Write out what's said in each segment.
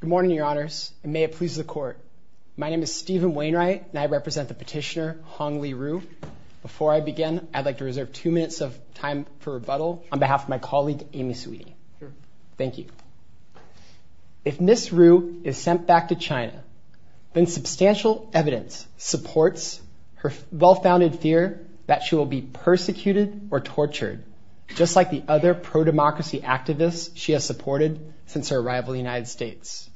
Good morning, Your Honors, and may it please the Court. My name is Stephen Wainwright, and I represent the petitioner, Hong Li Ru. Before I begin, I'd like to reserve two minutes of time for rebuttal on behalf of my colleague Amy Saweetie. Thank you. If Ms. Ru is sent back to China, then substantial evidence supports her well-founded fear that she will be persecuted or tortured, just like the other pro-democracy activists she has supported since her arrival in the United States.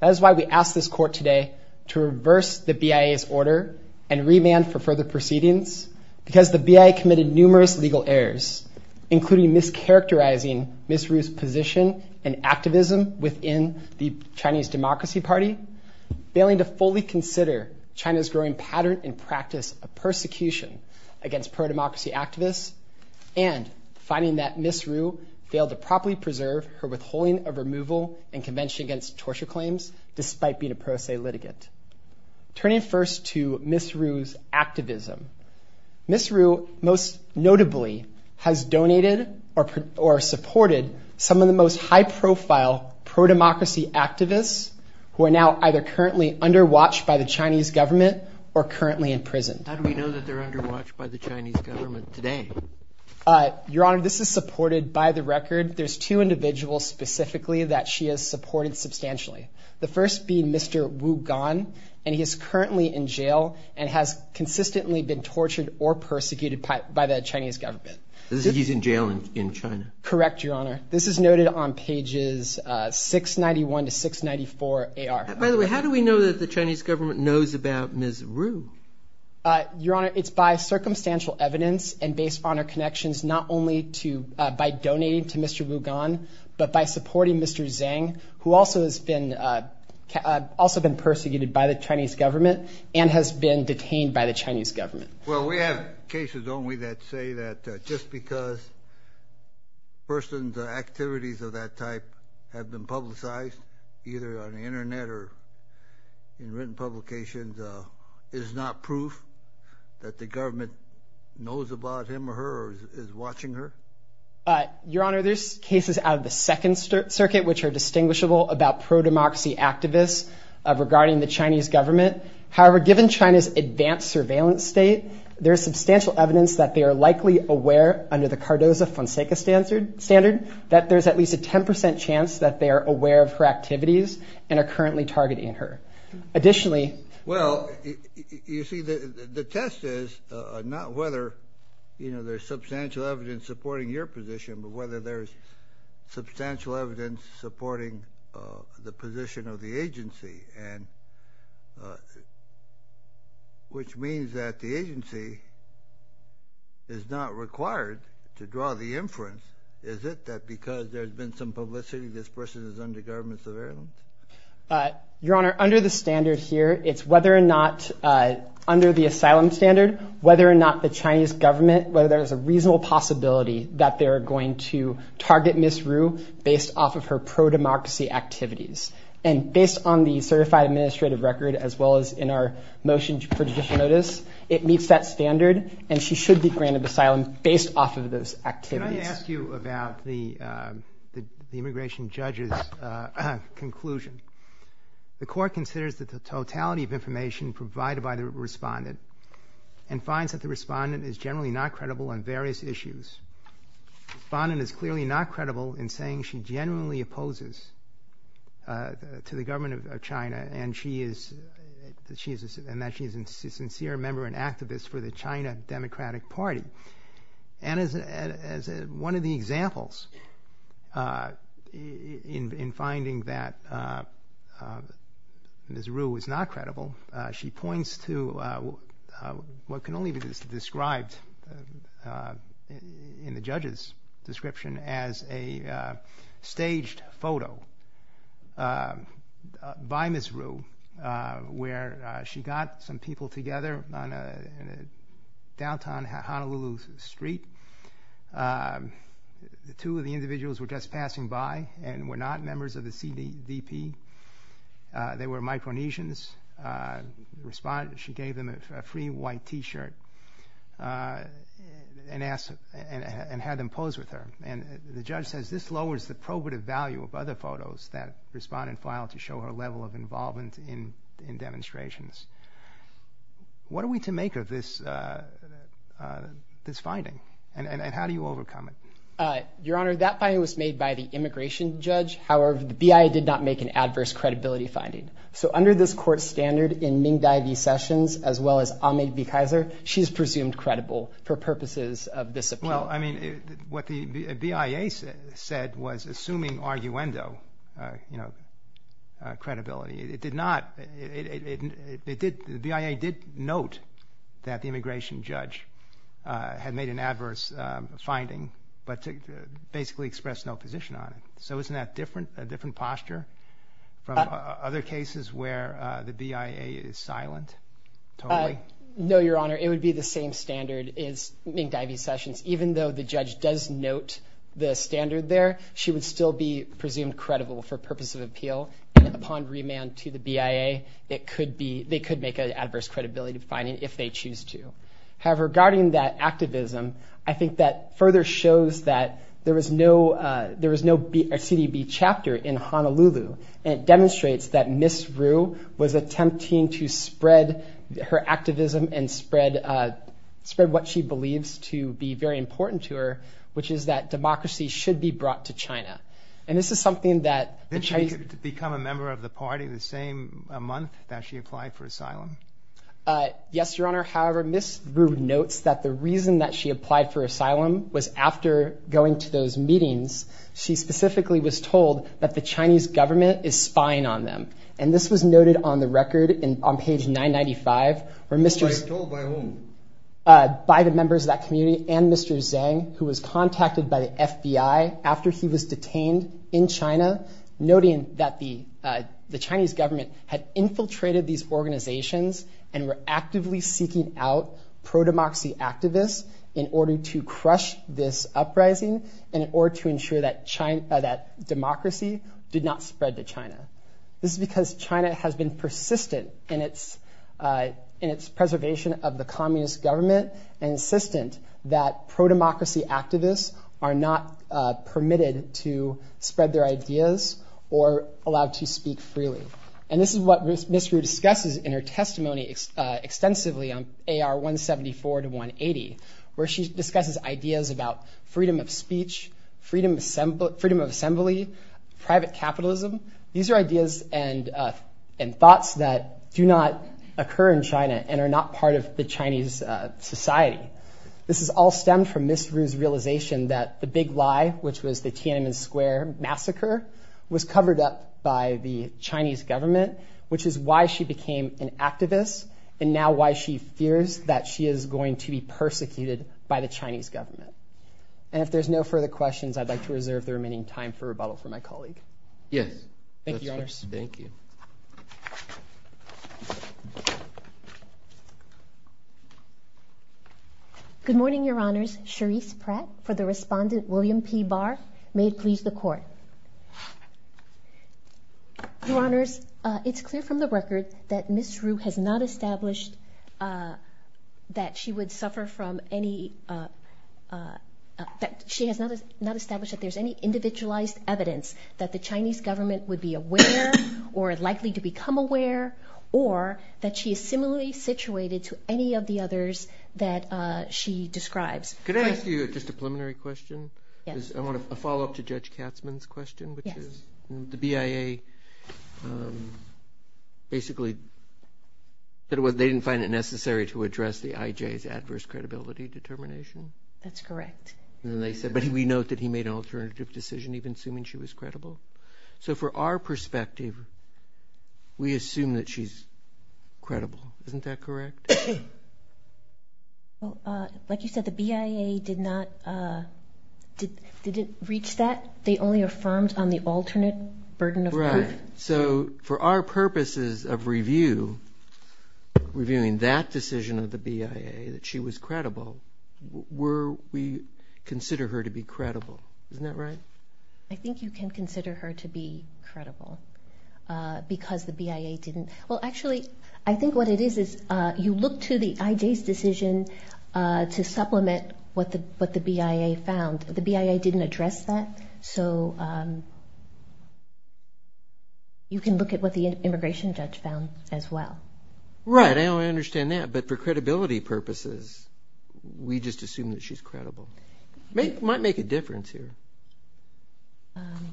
That is why we ask this Court today to reverse the BIA's order and remand for further proceedings, because the BIA committed numerous legal errors, including mischaracterizing Ms. Ru's position and activism within the Chinese Democracy Party, failing to fully consider China's growing pattern and practice of persecution against pro-democracy activists, and finding that Ms. Ru failed to properly preserve her withholding of removal and convention against torture claims, despite being a pro se litigant. Turning first to Ms. Ru's activism, Ms. Ru most notably has donated or supported some of the most high-profile pro-democracy activists who are now either currently under watch by the Chinese government or currently in prison. How do we know that they're under watch by the Chinese government today? Your Honor, this is supported by the record. There's two individuals specifically that she has supported substantially. The first being Mr. Wu Gan, and he is currently in jail and has consistently been tortured or persecuted by the Chinese government. He's in jail in China? Correct, Your Honor. This is noted on pages 691 to 694 AR. By the way, how do we know that the Chinese government knows about Ms. Ru? Your Honor, it's by circumstantial evidence and based on our connections, not only by donating to Mr. Wu Gan, but by supporting Mr. Zhang, who also has been persecuted by the Chinese government and has been detained by the Chinese government. Well, we have cases only that say that just because a person's activities of that type have been publicized, either on the internet or in written publications, is not proof that the government knows about him or her or is watching her? Your Honor, there's cases out of the Second Circuit which are distinguishable about pro-democracy activists regarding the Chinese government. However, given China's advanced surveillance state, there's substantial evidence that they are likely aware, under the Cardozo-Fonseca standard, that there's at least a 10% chance that they are aware of her activities and are currently targeting her. Additionally... Well, you see, the test is not whether there's substantial evidence supporting your position, but whether there's substantial evidence supporting the position of the agency, which means that the agency is not required to draw the inference, is it that because there's been some publicity, this person is under government surveillance? Your Honor, under the standard here, it's whether or not, under the asylum standard, whether or not the Chinese government, whether there's a reasonable possibility that they're going to target Ms. Wu based off of her pro-democracy activities. And based on the certified administrative record, as well as in our motion for judicial notice, it meets that standard, and she should be granted asylum based off of those activities. Can I ask you about the immigration judge's conclusion? The court considers that the totality of information provided by the respondent and finds that the respondent is generally not credible on various issues. The respondent is clearly not credible in saying she genuinely opposes to the government of China and that she is a sincere member and activist for the China Democratic Party. And as one of the examples in finding that Ms. Wu is not credible, she points to what can only be described in the judge's description as a staged photo by Ms. Wu, where she got some people together on downtown Honolulu Street. Two of the individuals were just passing by and were not members of the CDVP. They were Micronesians. She gave them a free white t-shirt and had them pose with her. And the judge says this lowers the probative value of other photos that respondent filed to show her level of involvement in demonstrations. What are we to make of this finding, and how do you overcome it? Your Honor, that finding was made by the immigration judge. However, the BIA did not make an adverse credibility finding. So under this court standard in Ming Dai v. Sessions, as well as Ahmed v. Kaiser, she is presumed credible for purposes of this appeal. Well, I mean, what the BIA said was assuming arguendo, you know, credibility. It did not, it did, the BIA did note that the immigration judge had made an adverse finding, but basically expressed no position on it. So isn't that different, a different posture from other cases where the BIA is silent? No, Your Honor, it would be the same standard as Ming Dai v. Sessions. Even though the judge does note the standard there, she would still be presumed credible for purposes of appeal. And upon remand to the BIA, it could be, they could make an adverse credibility finding if they choose to. However, regarding that activism, I think that further shows that there was no, there was no CDB chapter in Honolulu. And it demonstrates that Ms. Ru was attempting to spread her activism and spread, spread what she believes to be very important to her, which is that democracy should be brought to China. And this is something that the Chinese... Did she become a member of the party the same month that she applied for asylum? Yes, Your Honor. However, Ms. Ru notes that the reason that she applied for asylum was after going to those meetings, she specifically was told that the Chinese government is spying on them. And this was noted on the record on page 995, where Mr. Spied on by whom? By the members of that community and Mr. Zhang, who was contacted by the FBI after he was detained in China, noting that the Chinese government had infiltrated these organizations and were actively seeking out pro-democracy activists in order to crush this uprising and in order to ensure that China, that democracy did not spread to China. This is because China has been persistent in its, in its preservation of the communist government and insistent that pro-democracy activists are not permitted to spread their ideas or allowed to speak freely. And this is what Ms. Ru discusses in her testimony extensively on AR 174 to 180, where she discusses ideas about freedom of speech, freedom of assembly, private capitalism. These are ideas and thoughts that do not occur in China and are not part of the Chinese society. This is all stemmed from Ms. Ru's realization that the big lie, which was the Tiananmen Square massacre, was covered up by the Chinese government, which is why she became an activist. And now why she fears that she is going to be persecuted by the Chinese government. And if there's no further questions, I'd like to reserve the remaining time for rebuttal for my colleague. Yes. Thank you, Your Honor. Thank you. Good morning, Your Honors. Cherise Pratt for the respondent, William P. Barr. May it please the court. Your Honors, it's clear from the record that Ms. Ru has not established that she would suffer from any, that she has not established that there's any individualized evidence that the Chinese government would be aware or likely to become aware or that she is similarly situated to any of the others that she describes. Could I ask you just a preliminary question? Yes. I want to follow up to Judge Katzmann's question, which is the BIA basically, they didn't find it necessary to address the IJ's adverse credibility determination. That's correct. And then they said, but we note that he made an alternative decision, even assuming she was credible. So for our perspective, we assume that she's credible. Isn't that correct? Well, like you said, the BIA did not, didn't reach that. They only affirmed on the alternate burden of proof. Right. So for our purposes of review, reviewing that decision of the BIA that she was credible, were we consider her to be credible? Isn't that right? I think you can consider her to be credible because the BIA didn't. Well, actually, I think what it is, you look to the IJ's decision to supplement what the BIA found. The BIA didn't address that. So you can look at what the immigration judge found as well. Right. I understand that. But for credibility purposes, we just assume that she's credible. Might make a difference here. Um,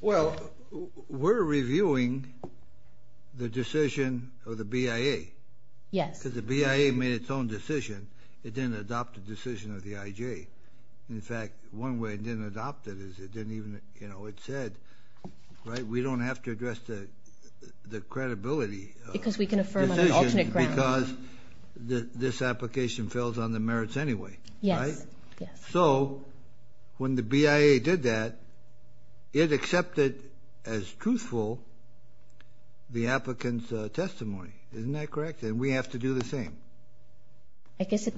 well, we're reviewing the decision of the BIA. Yes. Because the BIA made its own decision. It didn't adopt a decision of the IJ. In fact, one way it didn't adopt it is it didn't even, you know, it said, right, we don't have to address the credibility. Because we can affirm on an alternate ground. Because this application fails on the merits anyway. Yes. So when the BIA did that, it accepted as truthful the applicant's testimony. Isn't that correct? And we have to do the same. I guess it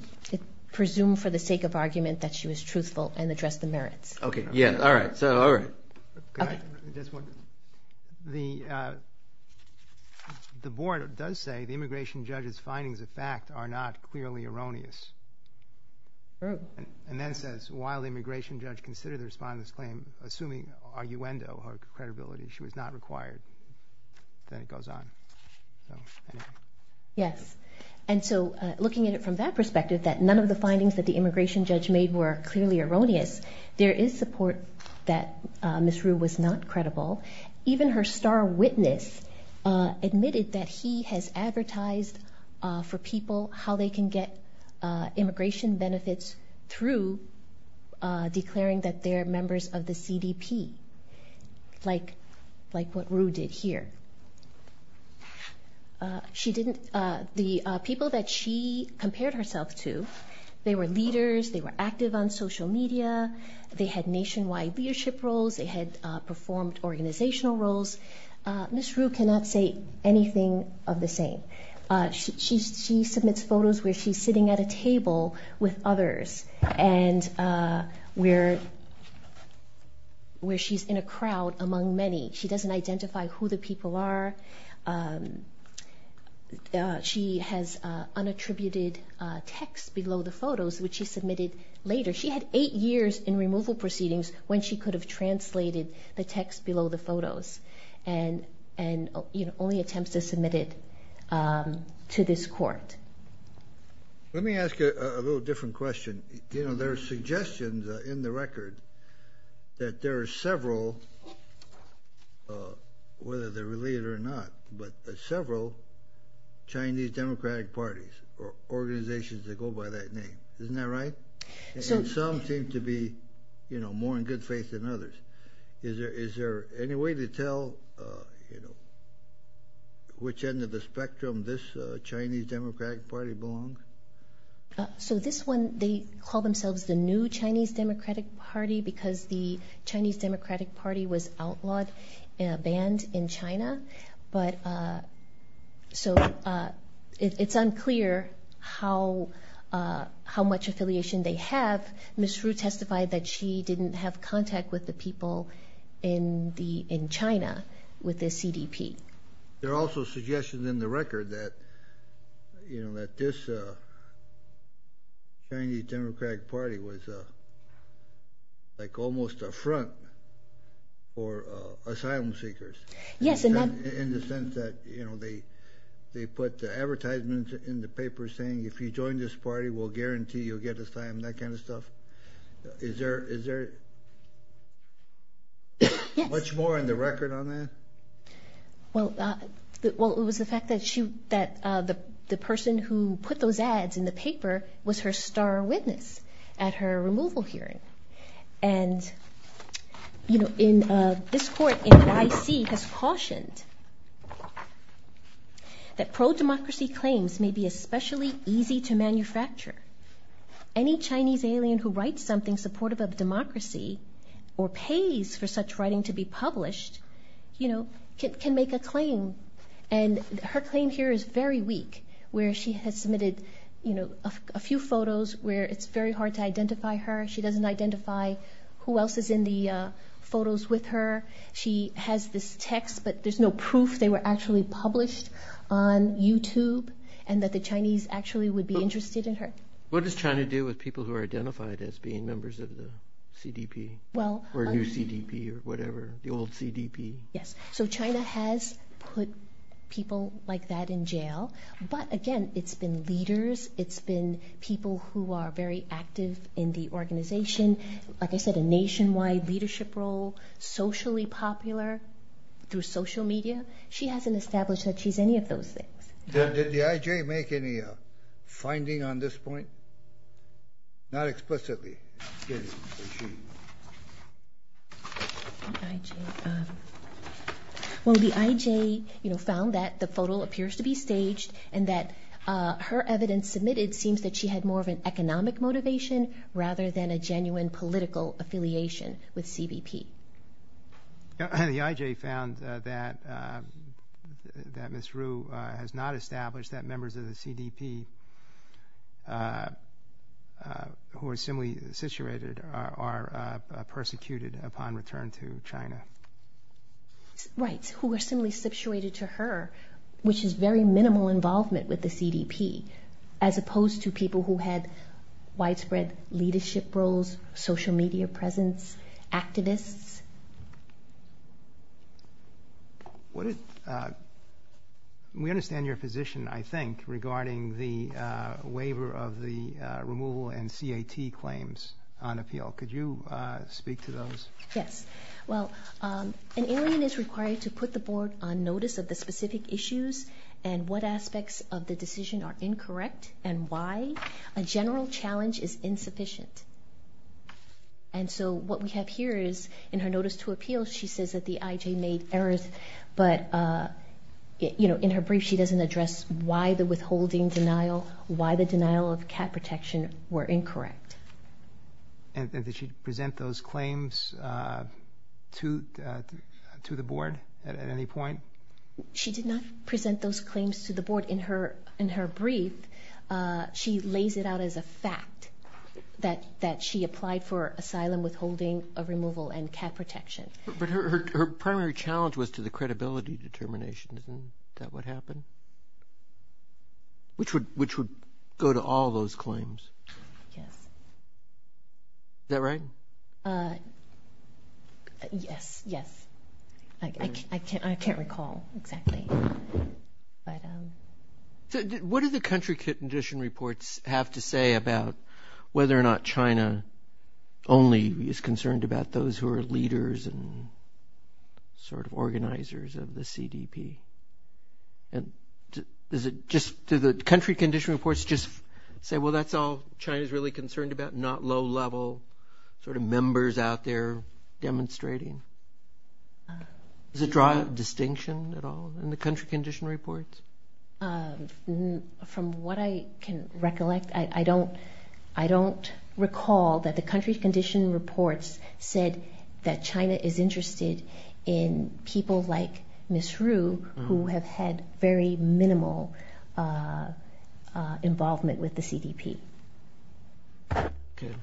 presumed for the sake of argument that she was truthful and addressed the merits. Okay. Yeah. All right. So, all right. The board does say the immigration judge's findings of fact are not clearly erroneous. Rue. And then says, while the immigration judge considered the respondent's claim, assuming arguendo, her credibility, she was not required. Then it goes on. Yes. And so, looking at it from that perspective, that none of the findings that the immigration judge made were clearly erroneous. There is support that Ms. Rue was not credible. Even her star witness admitted that he has advertised for people how they can get immigration benefits through declaring that they're members of the CDP, like what Rue did here. The people that she compared herself to, they were leaders. They were active on social media. They had nationwide leadership roles. They had performed organizational roles. Ms. Rue cannot say anything of the same. She submits photos where she's sitting at a table with others and where she's in a crowd among many. She doesn't identify who the people are. She has unattributed text below the photos, which she submitted later. She had eight years in removal proceedings when she could have translated the text below the photos and only attempts to submit it to this court. Let me ask you a little different question. There are suggestions in the record that there are several, whether they're related or not, but several Chinese Democratic parties or organizations that go by that name. Isn't that right? Some seem to be more in good faith than others. Is there any way to tell which end of the spectrum this Chinese Democratic Party belongs? So this one, they call themselves the new Chinese Democratic Party because the Chinese Democratic Party was outlawed and banned in China. So it's unclear how much affiliation they have. Ms. Rue testified that she didn't have contact with the people in China with the CDP. There are also suggestions in the record that this Chinese Democratic Party was almost a front for asylum seekers. In the sense that they put advertisements in the paper saying, if you join this party, we'll guarantee you'll get asylum, that kind of stuff. Is there much more in the record on that? Well, it was the fact that the person who put those ads in the paper was her star witness at her removal hearing. And this court in YC has cautioned that pro-democracy claims may be especially easy to manufacture. Any Chinese alien who writes something supportive of democracy or pays for such writing to be published can make a claim. And her claim here is very weak, where she has submitted a few photos where it's very hard to identify her. She doesn't identify who else is in the photos with her. She has this text, but there's no proof they were actually published on YouTube, and that the Chinese actually would be interested in her. What does China do with people who are identified as being members of the CDP or new CDP or whatever, the old CDP? Yes. So China has put people like that in jail. But again, it's been leaders. It's been people who are very active in the organization. Like I said, a nationwide leadership role, socially popular through social media. She hasn't established that she's any of those things. Did the IJ make any finding on this point? Not explicitly. Well, the IJ found that the photo appears to be staged and that her evidence submitted seems that she had more of an economic motivation rather than a genuine political affiliation with CBP. The IJ found that Ms. Ru has not established that members of the CDP who are similarly situated are persecuted upon return to China. Right. Who are similarly situated to her, which is very minimal involvement with the CDP, as opposed to people who had widespread leadership roles, social media presence, activists? We understand your position, I think, regarding the waiver of the removal and CAT claims on appeal. Could you speak to those? Yes. Well, an alien is required to put the board on notice of the specific issues and what and why a general challenge is insufficient. And so what we have here is in her notice to appeal, she says that the IJ made errors, but in her brief, she doesn't address why the withholding denial, why the denial of CAT protection were incorrect. And did she present those claims to the board at any point? She did not present those claims to the board in her brief. She lays it out as a fact that she applied for asylum withholding, a removal, and CAT protection. But her primary challenge was to the credibility determination. Isn't that what happened? Which would go to all those claims? Yes. Is that right? Yes, yes. I can't recall exactly. What do the country condition reports have to say about whether or not China only is concerned about those who are leaders and sort of organizers of the CDP? And is it just to the country condition reports just say, well, that's all China is really concerned about, not low level sort of members out there demonstrating? Does it draw a distinction at all in the country condition reports? From what I can recollect, I don't, I don't recall that the country condition reports said that China is interested in people like Ms. Ru, who have had very minimal involvement with the CDP. Good.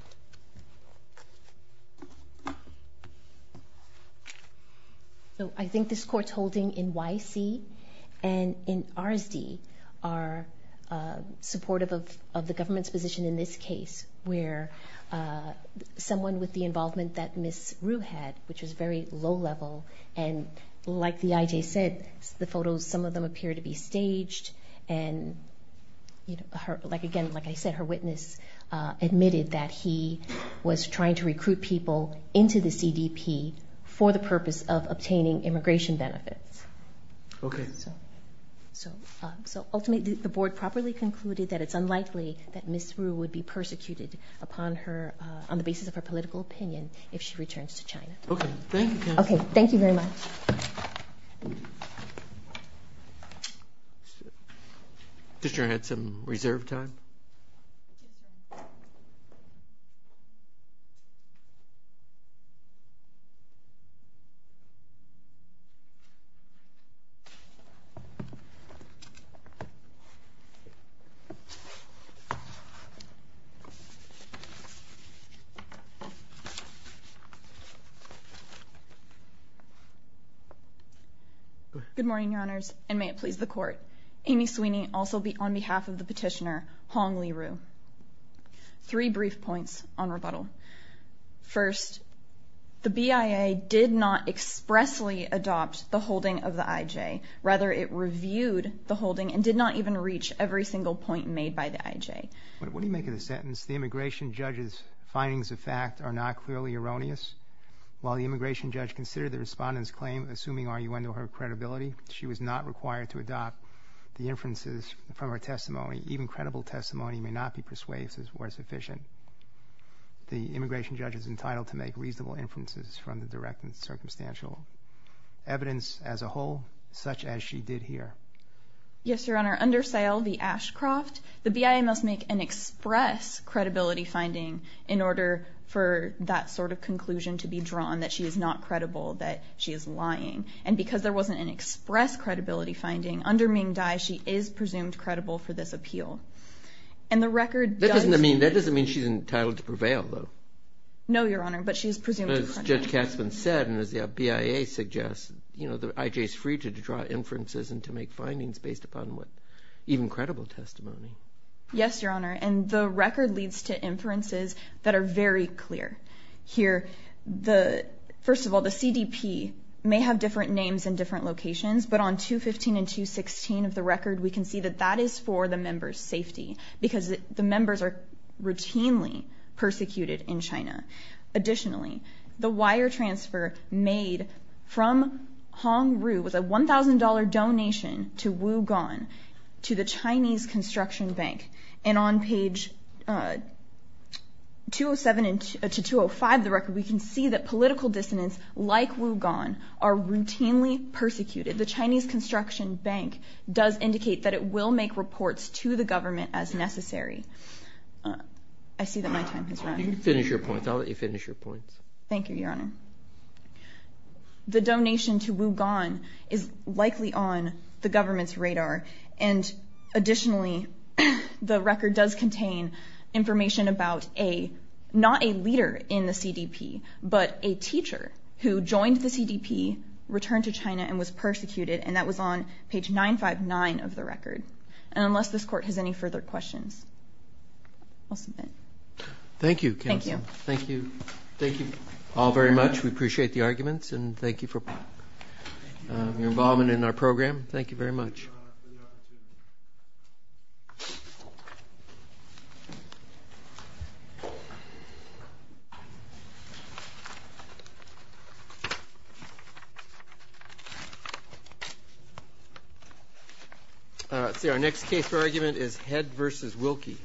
So I think this court's holding in YC and in RSD are supportive of the government's position in this case, where someone with the involvement that Ms. Ru had, which was very low level. And like the IJ said, the photos, some of them appear to be staged. And like again, like I said, her witness admitted that he was trying to recruit people into the CDP for the purpose of obtaining immigration benefits. Okay. So ultimately, the board properly concluded that it's unlikely that Ms. Ru would be persecuted upon her, on the basis of her political opinion, if she returns to China. Okay. Thank you. Okay. Thank you very much. Commissioner Hanson, reserve time. Good morning, Your Honors, and may it please the Court. Amy Sweeney, also be on behalf of the petitioner, Hong Li Ru. Three brief points on rebuttal. First, the BIA did not expressly adopt the holding of the IJ. Rather, it reviewed the holding and did not even reach every single point made by the IJ. But what do you make of the sentence, the immigration judge's findings of fact are not clearly erroneous? While the immigration judge considered the respondent's claim, assuming are you under her credibility, she was not required to adopt the inferences from her testimony. Even credible testimony may not be persuasive or sufficient. The immigration judge is entitled to make reasonable inferences from the direct and circumstantial evidence as a whole, such as she did here. Yes, Your Honor. Under SAIL v. Ashcroft, the BIA must make an express credibility finding in order for that sort of conclusion to be drawn, that she is not credible, that she is lying. And because there wasn't an express credibility finding, under Ming Dai, she is presumed credible for this appeal. And the record doesn't... That doesn't mean she's entitled to prevail, though. No, Your Honor, but she's presumed to prevail. As Judge Katzman said, and as the BIA suggests, the IJ is free to draw inferences and to make findings based upon even credible testimony. Yes, Your Honor. And the record leads to inferences that are very clear. Here, first of all, the CDP may have different names in different locations, but on 215 and 216 of the record, we can see that that is for the member's safety, because the members are routinely persecuted in China. Additionally, the wire transfer made from Hongroo was a $1,000 donation to Wugon, to the Chinese Construction Bank. And on page 207 to 205 of the record, we can see that political dissidents like Wugon are routinely persecuted. The Chinese Construction Bank does indicate that it will make reports to the government as necessary. I see that my time has run out. You can finish your points. I'll let you finish your points. Thank you, Your Honor. The donation to Wugon is likely on the government's radar. And additionally, the record does contain information about a, not a leader in the CDP, but a teacher who joined the CDP, returned to China, and was persecuted. And that was on page 959 of the record. And unless this Court has any further questions, I'll submit. Thank you, Counsel. Thank you. Thank you. Thank you all very much. We appreciate the arguments. And thank you for your involvement in our program. Thank you very much. See, our next case for argument is Head v. Wilkie.